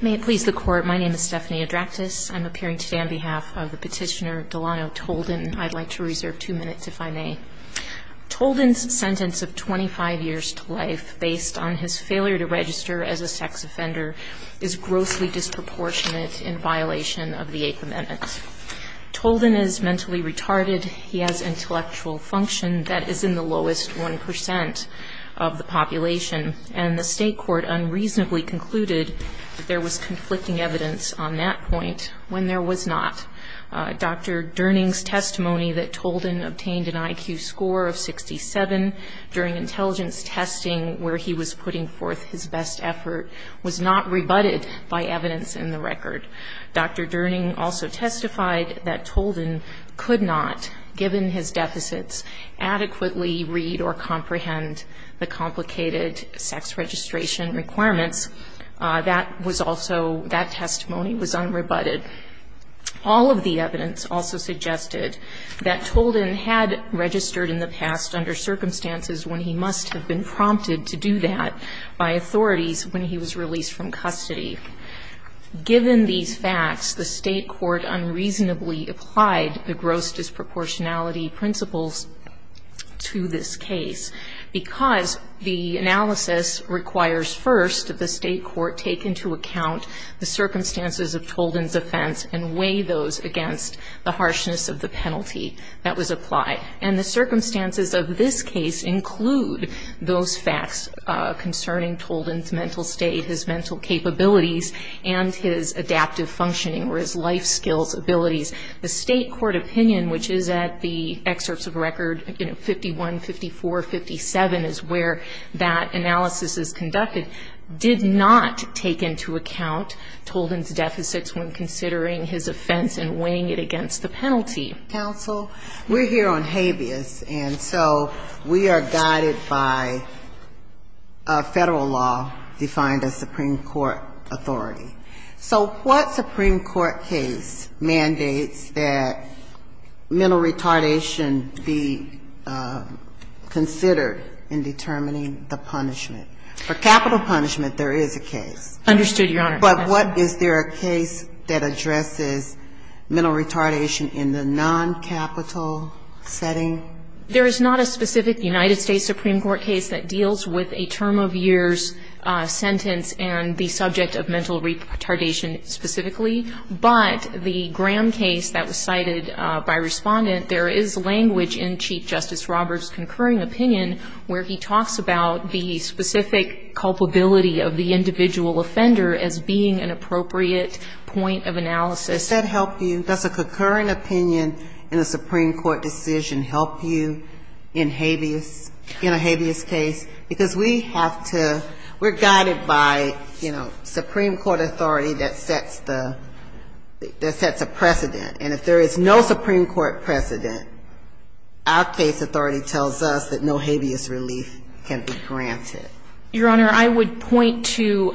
May it please the Court, my name is Stephanie Adraktis. I'm appearing today on behalf of the petitioner Delano Tolden. I'd like to reserve two minutes if I may. Tolden's sentence of 25 years to life based on his failure to register as a sex offender is grossly disproportionate in violation of the Eighth Amendment. Tolden is mentally retarded, he has intellectual function that is in the lowest 1% of the population, and the State Court unreasonably concluded that there was conflicting evidence on that point when there was not. Dr. Durning's testimony that Tolden obtained an IQ score of 67 during intelligence testing where he was putting forth his best effort was not rebutted by evidence in the record. Dr. Durning also testified that Tolden could not, given his deficits, adequately read or comprehend the complicated sex registration requirements. That was also, that testimony was unrebutted. All of the evidence also suggested that Tolden had registered in the past under circumstances when he must have been prompted to do that by authorities when he was released from custody. Given these facts, the State Court unreasonably applied the gross disproportionality principles to this case. Because the analysis requires first that the State Court take into account the circumstances of Tolden's offense and weigh those against the harshness of the penalty that was applied. And the circumstances of this case include those facts concerning Tolden's mental state, his mental capabilities, and his adaptive functioning or his life skills abilities. The State Court opinion, which is at the excerpts of record 51, 54, 57 is where that analysis is conducted, did not take into account Tolden's deficits when considering his offense and weighing it against the penalty. Sotomayor. Counsel, we're here on habeas, and so we are guided by a Federal law defined as Supreme Court authority. So what Supreme Court case mandates that mental retardation be considered in determining the punishment? For capital punishment, there is a case. Understood, Your Honor. But what is there a case that addresses mental retardation in the non-capital setting? There is not a specific United States Supreme Court case that deals with a term of years sentence and the subject of mental retardation specifically. But the Graham case that was cited by Respondent, there is language in Chief Justice Roberts' concurring opinion where he talks about the specific culpability of the individual offender as being an appropriate point of analysis. Does that help you? Does a concurring opinion in a Supreme Court decision help you in habeas, in a habeas case? Because we have to, we're guided by, you know, Supreme Court authority that sets the, that sets a precedent. And if there is no Supreme Court precedent, our case authority tells us that no habeas relief can be granted. Your Honor, I would point to,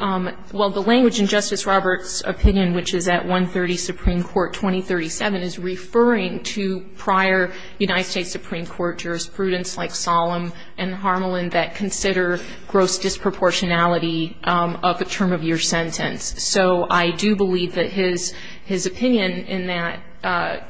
well, the language in Justice Roberts' opinion, which is at 130 Supreme Court 2037, is referring to prior United States Supreme Court jurisprudence like Solemn and Harmelin that consider gross disproportionality of a term of year sentence. So I do believe that his opinion in that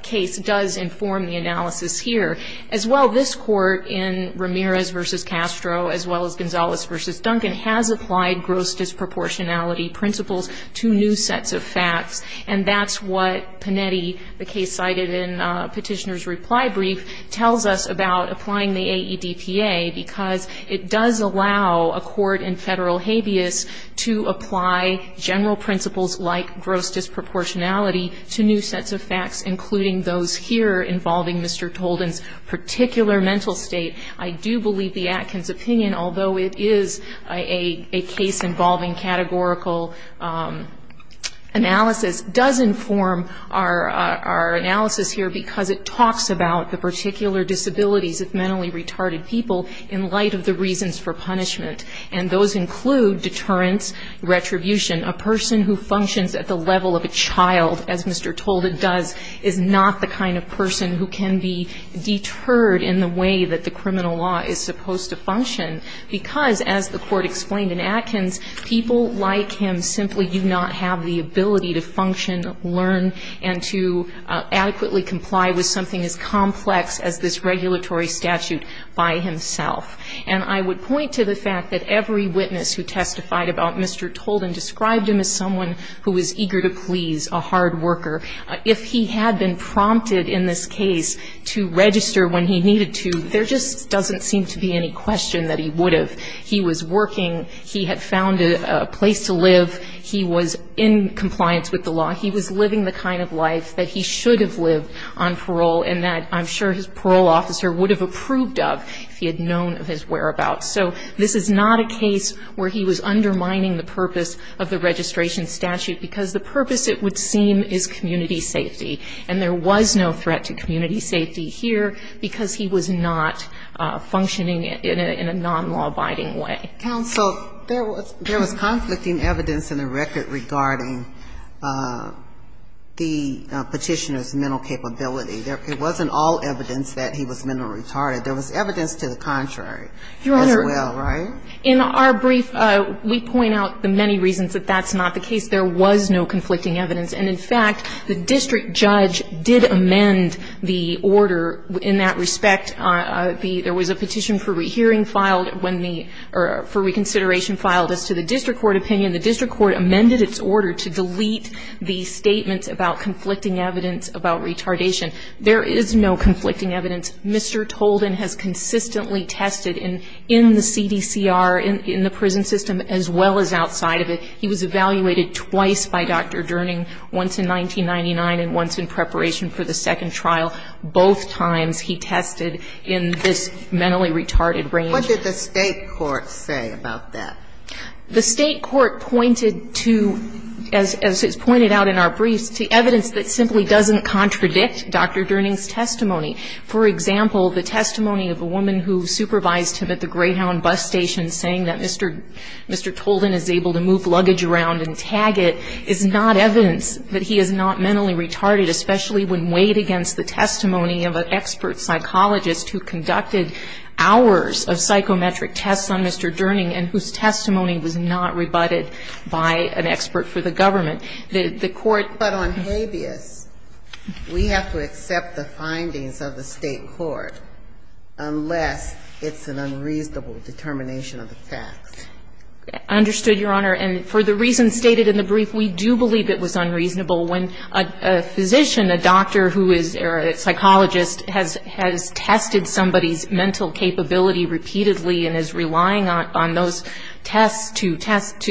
case does inform the analysis here, as well Ramirez v. Castro, as well as Gonzalez v. Duncan, has applied gross disproportionality principles to new sets of facts. And that's what Panetti, the case cited in Petitioner's reply brief, tells us about applying the AEDPA, because it does allow a court in Federal habeas to apply general principles like gross disproportionality to new sets of facts, including those here involving Mr. Tolden's particular mental state. I do believe the Atkins opinion, although it is a case involving categorical analysis, does inform our analysis here because it talks about the particular disabilities of mentally retarded people in light of the reasons for punishment. And those include deterrence, retribution. A person who functions at the level of a child, as Mr. Tolden does, is not the kind of person who can be deterred in the way that the criminal law is supposed to function, because, as the Court explained in Atkins, people like him simply do not have the ability to function, learn, and to adequately comply with something as complex as this regulatory statute by himself. And I would point to the fact that every witness who testified about Mr. Tolden described him as someone who was eager to please, a hard worker. If he had been prompted in this case to register when he needed to, there just doesn't seem to be any question that he would have. He was working. He had found a place to live. He was in compliance with the law. He was living the kind of life that he should have lived on parole and that I'm sure his parole officer would have approved of if he had known of his whereabouts. So this is not a case where he was undermining the purpose of the registration statute, because the purpose, it would seem, is community safety. And there was no threat to community safety here because he was not functioning in a nonlaw-abiding way. Counsel, there was conflicting evidence in the record regarding the Petitioner's mental capability. There wasn't all evidence that he was mentally retarded. There was evidence to the contrary as well, right? Your Honor, in our brief, we point out the many reasons that that's not the case. There was no conflicting evidence. And in fact, the district judge did amend the order in that respect. There was a Petition for Rehearing filed when the – or for reconsideration filed as to the district court opinion. The district court amended its order to delete the statement about conflicting evidence about retardation. There is no conflicting evidence. Mr. Tolden has consistently tested in the CDCR, in the prison system, as well as outside of it. He was evaluated twice by Dr. Durning, once in 1999 and once in preparation for the second trial. Both times he tested in this mentally retarded range. What did the state court say about that? The state court pointed to, as it's pointed out in our briefs, to evidence that simply doesn't contradict Dr. Durning's testimony. For example, the testimony of a woman who supervised him at the Greyhound bus station saying that Mr. Tolden is able to move luggage around and tag it is not evidence that he is not mentally retarded, especially when weighed against the testimony of an expert psychologist who conducted hours of psychometric tests on Mr. Durning and whose testimony was not rebutted by an expert for the government. The court But on habeas, we have to accept the findings of the state court unless it's an unreasonable determination of the facts. Understood, Your Honor. And for the reasons stated in the brief, we do believe it was unreasonable when a physician, a doctor who is a psychologist, has tested somebody's mental capability repeatedly and is relying on those tests to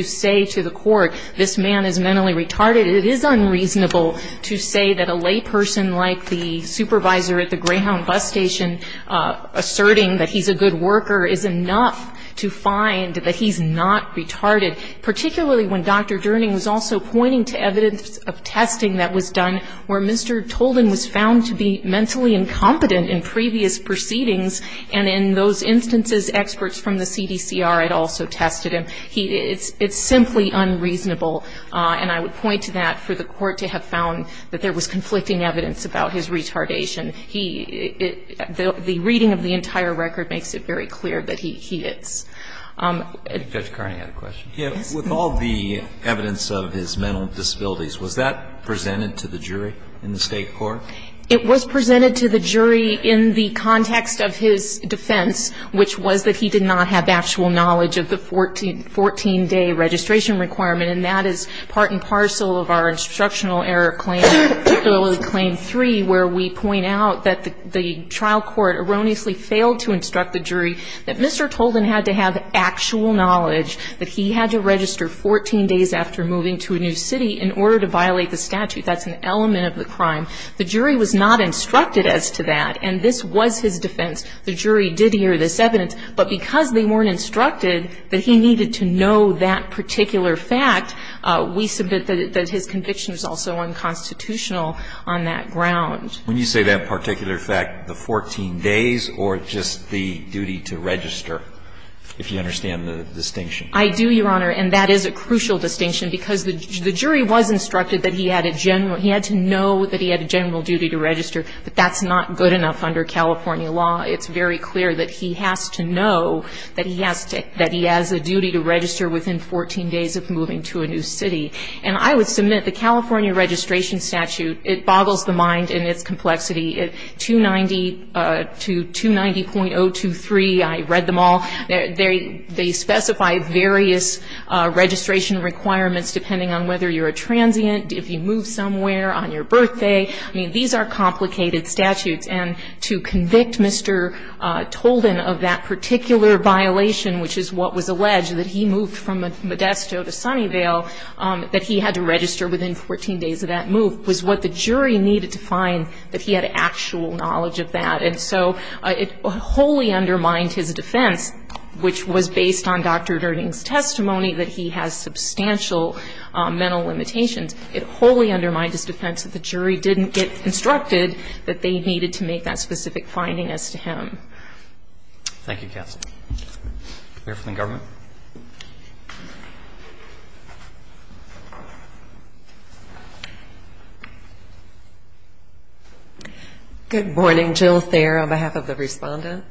say to the court, this man is mentally retarded. It is unreasonable to say that a layperson like the supervisor at the Greyhound bus station asserting that he's a good worker is enough to find that he's not retarded, particularly when Dr. Durning was also pointing to evidence of testing that was done where Mr. Tolden was found to be mentally incompetent in previous proceedings and in those instances experts from the CDCR had also tested him. It's simply unreasonable, and I would point to that for the court to have found that there was conflicting evidence about his retardation. The reading of the entire record makes it very clear that he is. Judge Carney had a question. Yes. With all the evidence of his mental disabilities, was that presented to the jury in the state court? It was presented to the jury in the context of his defense, which was that he did not have actual knowledge of the 14-day registration requirement, and that is part and parcel of our Instructional Error Claim, particularly Claim 3, where we point out that the trial court erroneously failed to instruct the jury that Mr. Tolden had to have actual knowledge that he had to register 14 days after moving to a new city in order to violate the statute. That's an element of the crime. The jury was not instructed as to that, and this was his defense. The jury did hear this evidence, but because they weren't instructed that he needed to know that particular fact, we submit that his conviction was also unconstitutional on that ground. When you say that particular fact, the 14 days or just the duty to register, if you understand the distinction? I do, Your Honor, and that is a crucial distinction, because the jury was instructed that he had a general – he had to know that he had a general duty to register, but that's not good enough under California law. It's very clear that he has to know that he has to – that he has a duty to register within 14 days of moving to a new city. And I would submit the California registration statute, it boggles the mind in its complexity. 290 to 290.023, I read them all, they specify various registration requirements depending on whether you're a transient, if you move somewhere, on your birthday. I mean, these are complicated statutes. And to convict Mr. Tolden of that particular violation, which is what was alleged, that he moved from Modesto to Sunnyvale, that he had to register within 14 days of that move, was what the jury needed to find, that he had actual knowledge of that. And so it wholly undermined his defense, which was based on Dr. Durning's testimony that he has substantial mental limitations. And it wholly undermined his defense that the jury didn't get instructed that they needed to make that specific finding as to him. Thank you, counsel. Clear from the government? Good morning. Jill Thayer on behalf of the Respondent.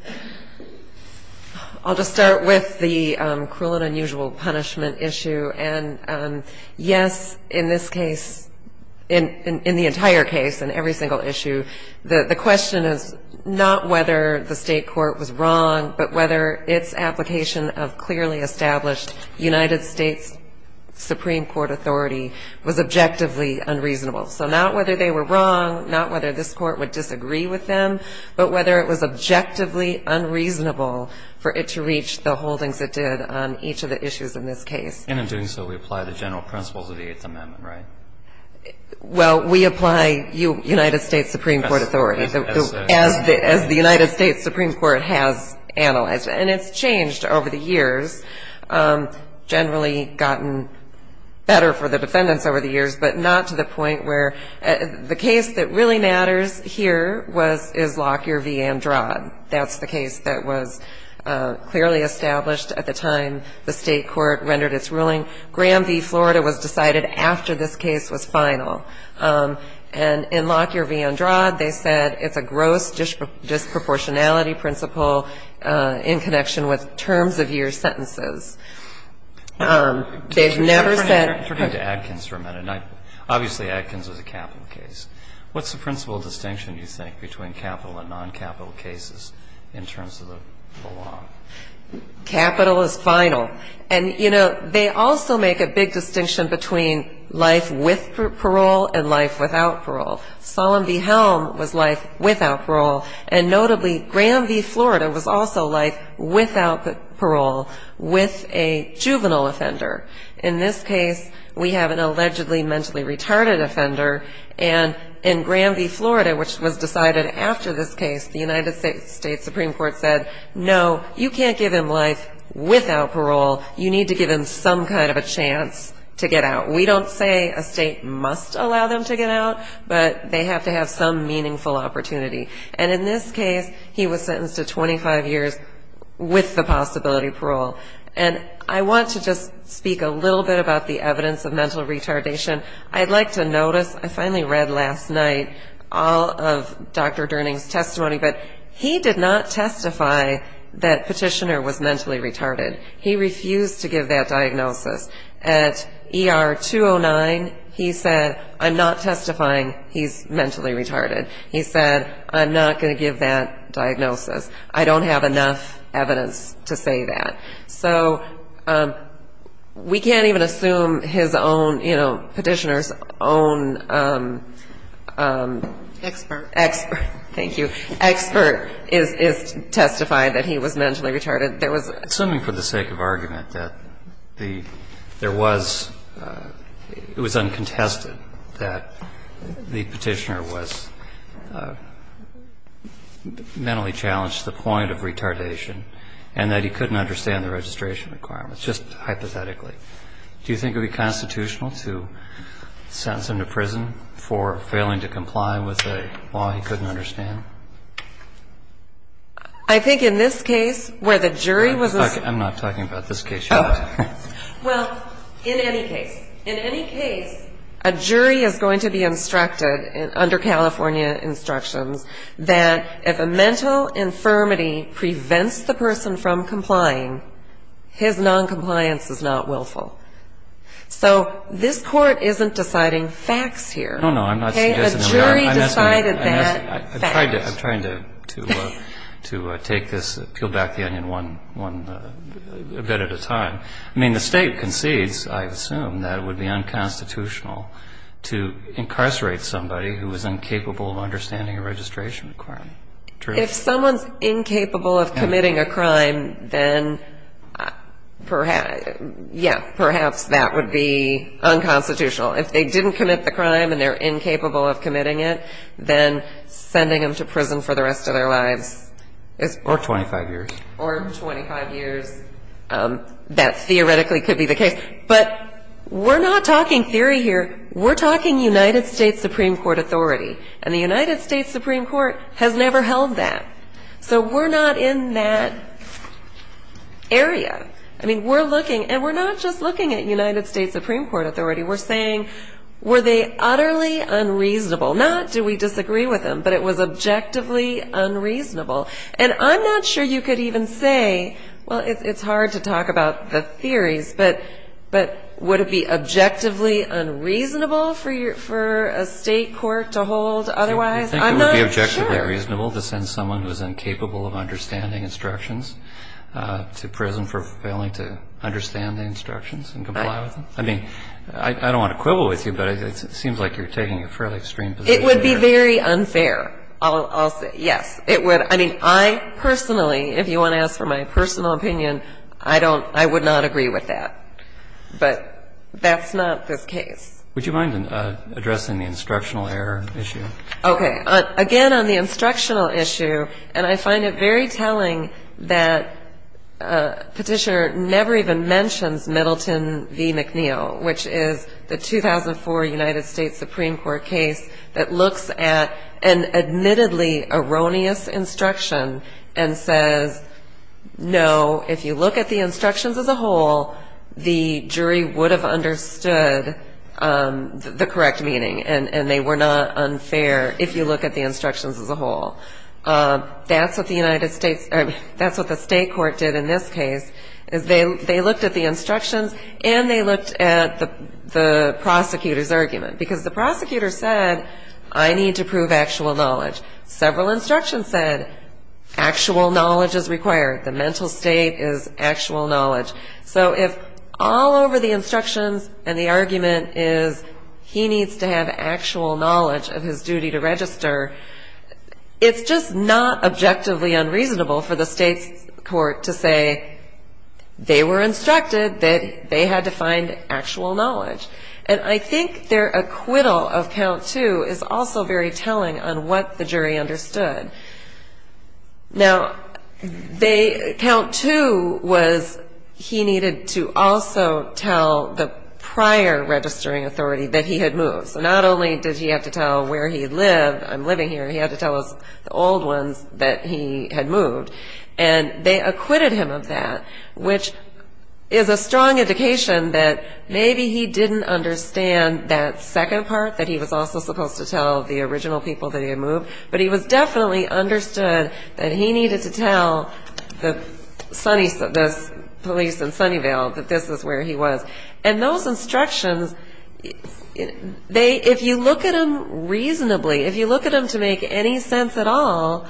I'll just start with the cruel and unusual punishment issue. And, yes, in this case, in the entire case and every single issue, the question is not whether the state court was wrong, but whether its application of clearly established United States Supreme Court authority was objectively unreasonable. So not whether they were wrong, not whether this court would disagree with them, but whether it was objectively unreasonable for it to reach the holdings it did on each of the issues in this case. And in doing so, we apply the general principles of the Eighth Amendment, right? Well, we apply United States Supreme Court authority, as the United States Supreme Court has analyzed. And it's changed over the years, generally gotten better for the defendants over the years, but not to the point where the case that really matters here is Lockyer v. Andrad. That's the case that was clearly established at the time the state court rendered its ruling. Graham v. Florida was decided after this case was final. And in Lockyer v. Andrad, they said it's a gross disproportionality principle in connection with terms of your sentences. They've never said – Turning to Adkins for a minute. Obviously, Adkins was a capital case. What's the principal distinction, do you think, between capital and non-capital cases in terms of the law? Capital is final. And, you know, they also make a big distinction between life with parole and life without parole. Solemn v. Helm was life without parole. And notably, Graham v. Florida was also life without parole with a juvenile offender. In this case, we have an allegedly mentally retarded offender. And in Graham v. Florida, which was decided after this case, the United States Supreme Court said, no, you can't give him life without parole. You need to give him some kind of a chance to get out. We don't say a state must allow them to get out, but they have to have some meaningful opportunity. And in this case, he was sentenced to 25 years with the possibility of parole. And I want to just speak a little bit about the evidence of mental retardation. I'd like to notice – I finally read last night all of Dr. Durning's testimony, but he did not testify that Petitioner was mentally retarded. He refused to give that diagnosis. At ER 209, he said, I'm not testifying he's mentally retarded. He said, I'm not going to give that diagnosis. I don't have enough evidence to say that. So we can't even assume his own, you know, Petitioner's own... Expert. Expert. Thank you. Expert is testifying that he was mentally retarded. There was... Assuming for the sake of argument that the – there was – it was uncontested that the Petitioner was mentally challenged to the point of retardation and that he couldn't understand the registration requirements, just hypothetically. Do you think it would be constitutional to sentence him to prison for failing to comply with a law he couldn't understand? I think in this case, where the jury was... I'm not talking about this case. Well, in any case, in any case, a jury is going to be instructed under California instructions that if a mental infirmity prevents the person from complying, his noncompliance is not willful. So this Court isn't deciding facts here. No, no, I'm not suggesting that we are. A jury decided that fact. I'm trying to take this, peel back the onion one bit at a time. I mean, the State concedes, I assume, that it would be unconstitutional to incarcerate somebody who is incapable of understanding a registration requirement. If someone's incapable of committing a crime, then perhaps, yeah, perhaps that would be unconstitutional. If they didn't commit the crime and they're incapable of committing it, then sending them to prison for the rest of their lives is... Or 25 years. Or 25 years. That theoretically could be the case. But we're not talking theory here. We're talking United States Supreme Court authority. And the United States Supreme Court has never held that. So we're not in that area. I mean, we're looking, and we're not just looking at United States Supreme Court authority. We're saying, were they utterly unreasonable? Not do we disagree with them, but it was objectively unreasonable. And I'm not sure you could even say, well, it's hard to talk about the theories, but would it be objectively unreasonable for a State court to hold otherwise? I'm not sure. Do you think it would be objectively reasonable to send someone who's incapable of understanding instructions to prison for failing to understand the instructions and comply with them? I mean, I don't want to quibble with you, but it seems like you're taking a fairly extreme position. It would be very unfair. I'll say, yes, it would. I mean, I personally, if you want to ask for my personal opinion, I don't, I would not agree with that, but that's not this case. Would you mind addressing the instructional error issue? Okay. Again, on the instructional issue, and I find it very telling that Petitioner never even mentions Middleton v. McNeil, which is the 2004 United States Supreme Court case that looks at an admittedly erroneous instruction and says, no, if you look at the instructions as a whole, the jury would have understood the correct meaning, and they were not unfair, if you look at the instructions as a whole. That's what the United States, that's what the State court did in this case, is they looked at the instructions and they looked at the prosecutor's argument, because the prosecutor said, I need to prove actual knowledge. Several instructions said, actual knowledge is required. The mental state is actual knowledge. So if all over the instructions and the argument is he needs to have actual knowledge of his duty to register, it's just not objectively unreasonable for the State's court to say they were instructed, that they had to find actual knowledge. And I think their acquittal of count two is also very telling on what the jury understood. Now, count two was he needed to also tell the prior registering authority that he had moved. So not only did he have to tell where he lived, I'm living here, he had to tell us, the old ones, that he had moved. And they acquitted him of that, which is a strong indication that maybe he didn't understand that second part, that he was also supposed to tell the original people that he had moved, but he was definitely understood that he needed to tell the police in Sunnyvale that this is where he was. And those instructions, if you look at them reasonably, if you look at them to make any sense at all,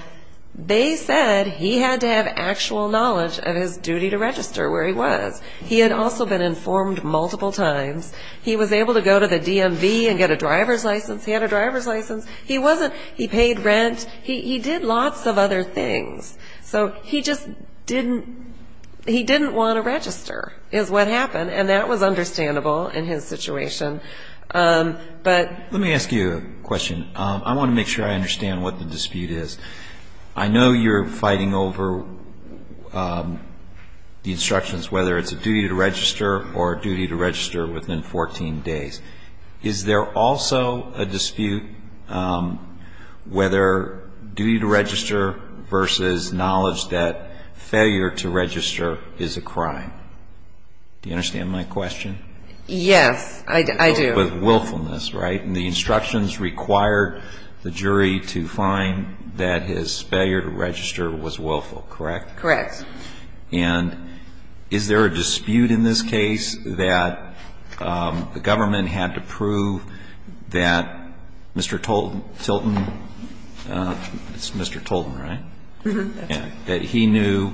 they said he had to have actual knowledge of his duty to register where he was. He had also been informed multiple times. He was able to go to the DMV and get a driver's license. He had a driver's license. He wasn't he paid rent. He did lots of other things. So he just didn't want to register is what happened, and that was understandable in his situation. Let me ask you a question. I want to make sure I understand what the dispute is. I know you're fighting over the instructions, whether it's a duty to register or a duty to register within 14 days. Is there also a dispute whether duty to register versus knowledge that failure to register is a crime? Do you understand my question? Yes, I do. With willfulness, right? And the instructions required the jury to find that his failure to register was willful, correct? Correct. And is there a dispute in this case that the government had to prove that Mr. Tolton, it's Mr. Tolton, right, that he knew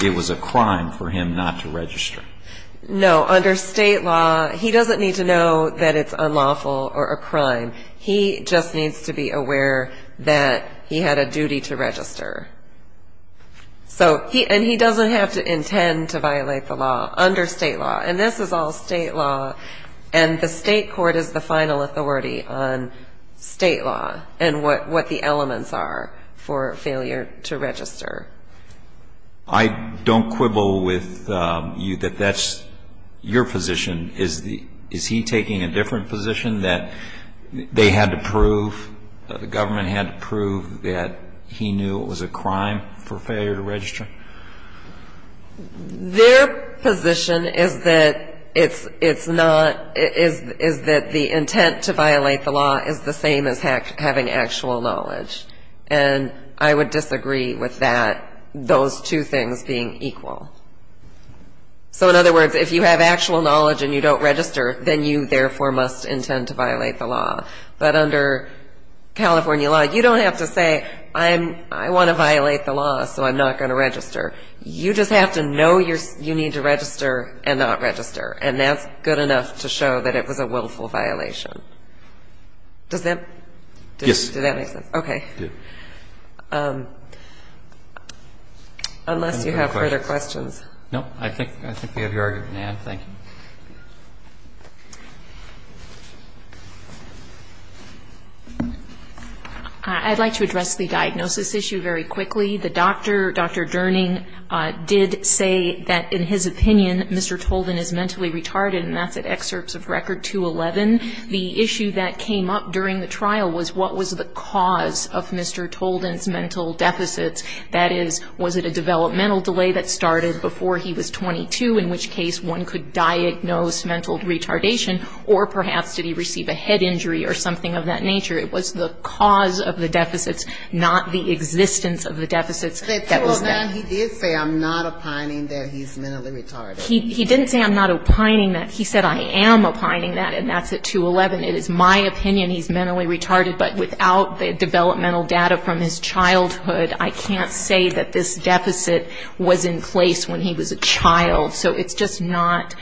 it was a crime for him not to register? No. Under state law, he doesn't need to know that it's unlawful or a crime. He just needs to be aware that he had a duty to register. And he doesn't have to intend to violate the law under state law. And this is all state law, and the state court is the final authority on state law and what the elements are for failure to register. I don't quibble with you that that's your position. Is he taking a different position that they had to prove, the government had to prove, that he knew it was a crime for failure to register? Their position is that it's not, is that the intent to violate the law is the same as having actual knowledge. And I would disagree with that, those two things being equal. So, in other words, if you have actual knowledge and you don't register, then you, therefore, must intend to violate the law. But under California law, you don't have to say, I want to violate the law, so I'm not going to register. You just have to know you need to register and not register. And that's good enough to show that it was a willful violation. Does that make sense? Okay. Unless you have further questions. No. I think we have your argument, ma'am. Thank you. I'd like to address the diagnosis issue very quickly. The doctor, Dr. Durning, did say that, in his opinion, Mr. Tolvin is mentally retarded, and that's at excerpts of Record 211. The issue that came up during the trial was what was the cause of Mr. Tolvin's mental deficits, that is, was it a developmental delay that started before he was 22, in which case one could diagnose mental retardation, or perhaps did he receive a head injury or something of that nature? It was the cause of the deficits, not the existence of the deficits. Well, he did say, I'm not opining that he's mentally retarded. He didn't say, I'm not opining that. He said, I am opining that, and that's at 211. It is my opinion he's mentally retarded. But without the developmental data from his childhood, I can't say that this deficit was in place when he was a child. So it's just not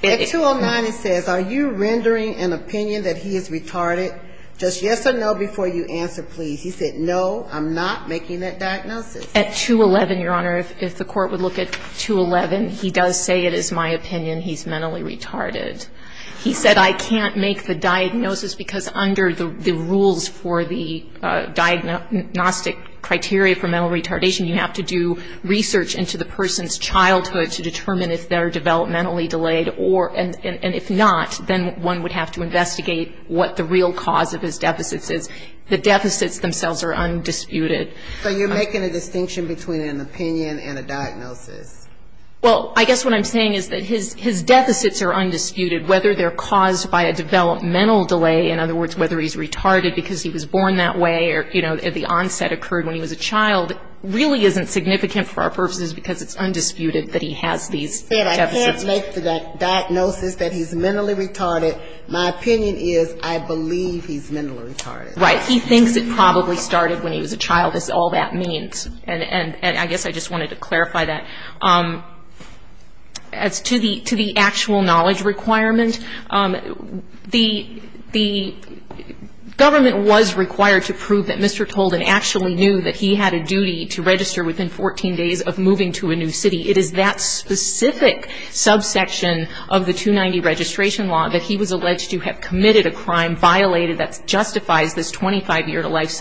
the case. At 209 it says, are you rendering an opinion that he is retarded? Just yes or no before you answer, please. He said, no, I'm not making that diagnosis. At 211, Your Honor, if the Court would look at 211, he does say it is my opinion he's mentally retarded. He said, I can't make the diagnosis, because under the rules for the diagnostic criteria for mental retardation, you have to do research into the person's childhood to determine if they're developmentally delayed, and if not, then one would have to investigate what the real cause of his deficits is. The deficits themselves are undisputed. So you're making a distinction between an opinion and a diagnosis. Well, I guess what I'm saying is that his deficits are undisputed, whether they're caused by a developmental delay, in other words, whether he's retarded because he was born that way or, you know, the onset occurred when he was a child, really isn't significant for our purposes because it's undisputed that he has these deficits. He said, I can't make the diagnosis that he's mentally retarded. My opinion is I believe he's mentally retarded. Right. He thinks it probably started when he was a child. That's all that means. And I guess I just wanted to clarify that. As to the actual knowledge requirement, the government was required to prove that Mr. Tolden actually knew that he had a duty to register within 14 days of moving to a new city. It is that specific subsection of the 290 registration law that he was alleged to have committed a crime violated that justifies this 25-year-to-life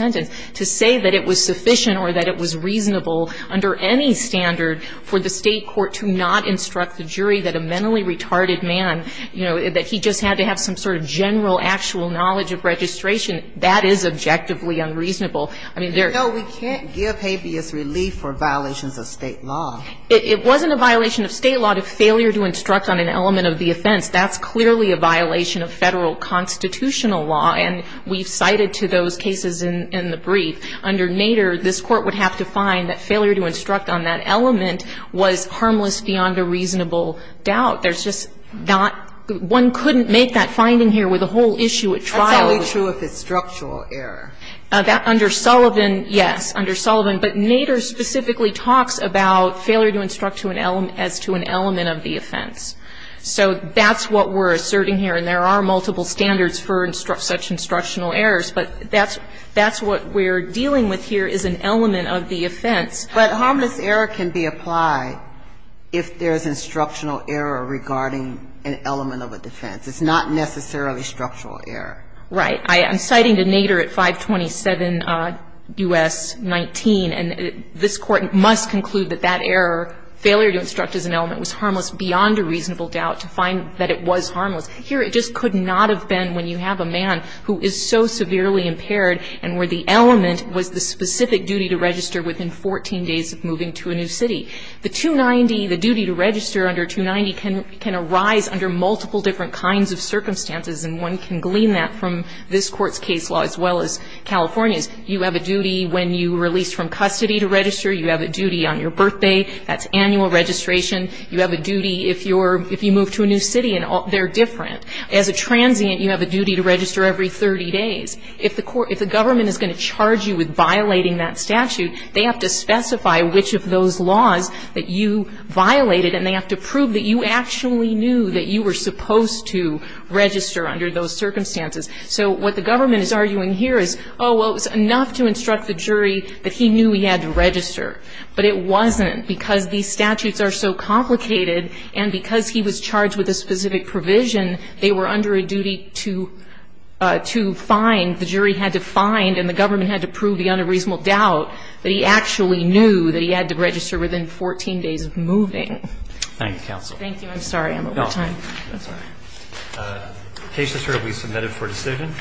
under any standard for the state court to not instruct the jury that a mentally retarded man, you know, that he just had to have some sort of general actual knowledge of registration, that is objectively unreasonable. I mean, there are no we can't give habeas relief for violations of state law. It wasn't a violation of state law to failure to instruct on an element of the offense. That's clearly a violation of federal constitutional law. And we've cited to those cases in the brief. Under Nader, this Court would have to find that failure to instruct on that element was harmless beyond a reasonable doubt. There's just not one couldn't make that finding here with a whole issue at trial. That's only true if it's structural error. Under Sullivan, yes. Under Sullivan. But Nader specifically talks about failure to instruct as to an element of the offense. So that's what we're asserting here. And there are multiple standards for such instructional errors. But that's what we're dealing with here is an element of the offense. But harmless error can be applied if there's instructional error regarding an element of a defense. It's not necessarily structural error. Right. I'm citing to Nader at 527 U.S. 19. And this Court must conclude that that error, failure to instruct as an element was harmless beyond a reasonable doubt to find that it was harmless. Here it just could not have been when you have a man who is so severely impaired and where the element was the specific duty to register within 14 days of moving to a new city. The 290, the duty to register under 290 can arise under multiple different kinds of circumstances. And one can glean that from this Court's case law as well as California's. You have a duty when you release from custody to register. You have a duty on your birthday. That's annual registration. You have a duty if you move to a new city, and they're different. As a transient, you have a duty to register every 30 days. If the government is going to charge you with violating that statute, they have to specify which of those laws that you violated, and they have to prove that you actually knew that you were supposed to register under those circumstances. So what the government is arguing here is, oh, well, it was enough to instruct the jury that he knew he had to register. But it wasn't, because these statutes are so complicated, and because he was charged with a specific provision, they were under a duty to find. The jury had to find, and the government had to prove beyond a reasonable doubt that he actually knew that he had to register within 14 days of moving. Roberts. Thank you, counsel. Thank you. I'm sorry. I'm over time. That's all right. Patients are to be submitted for decision.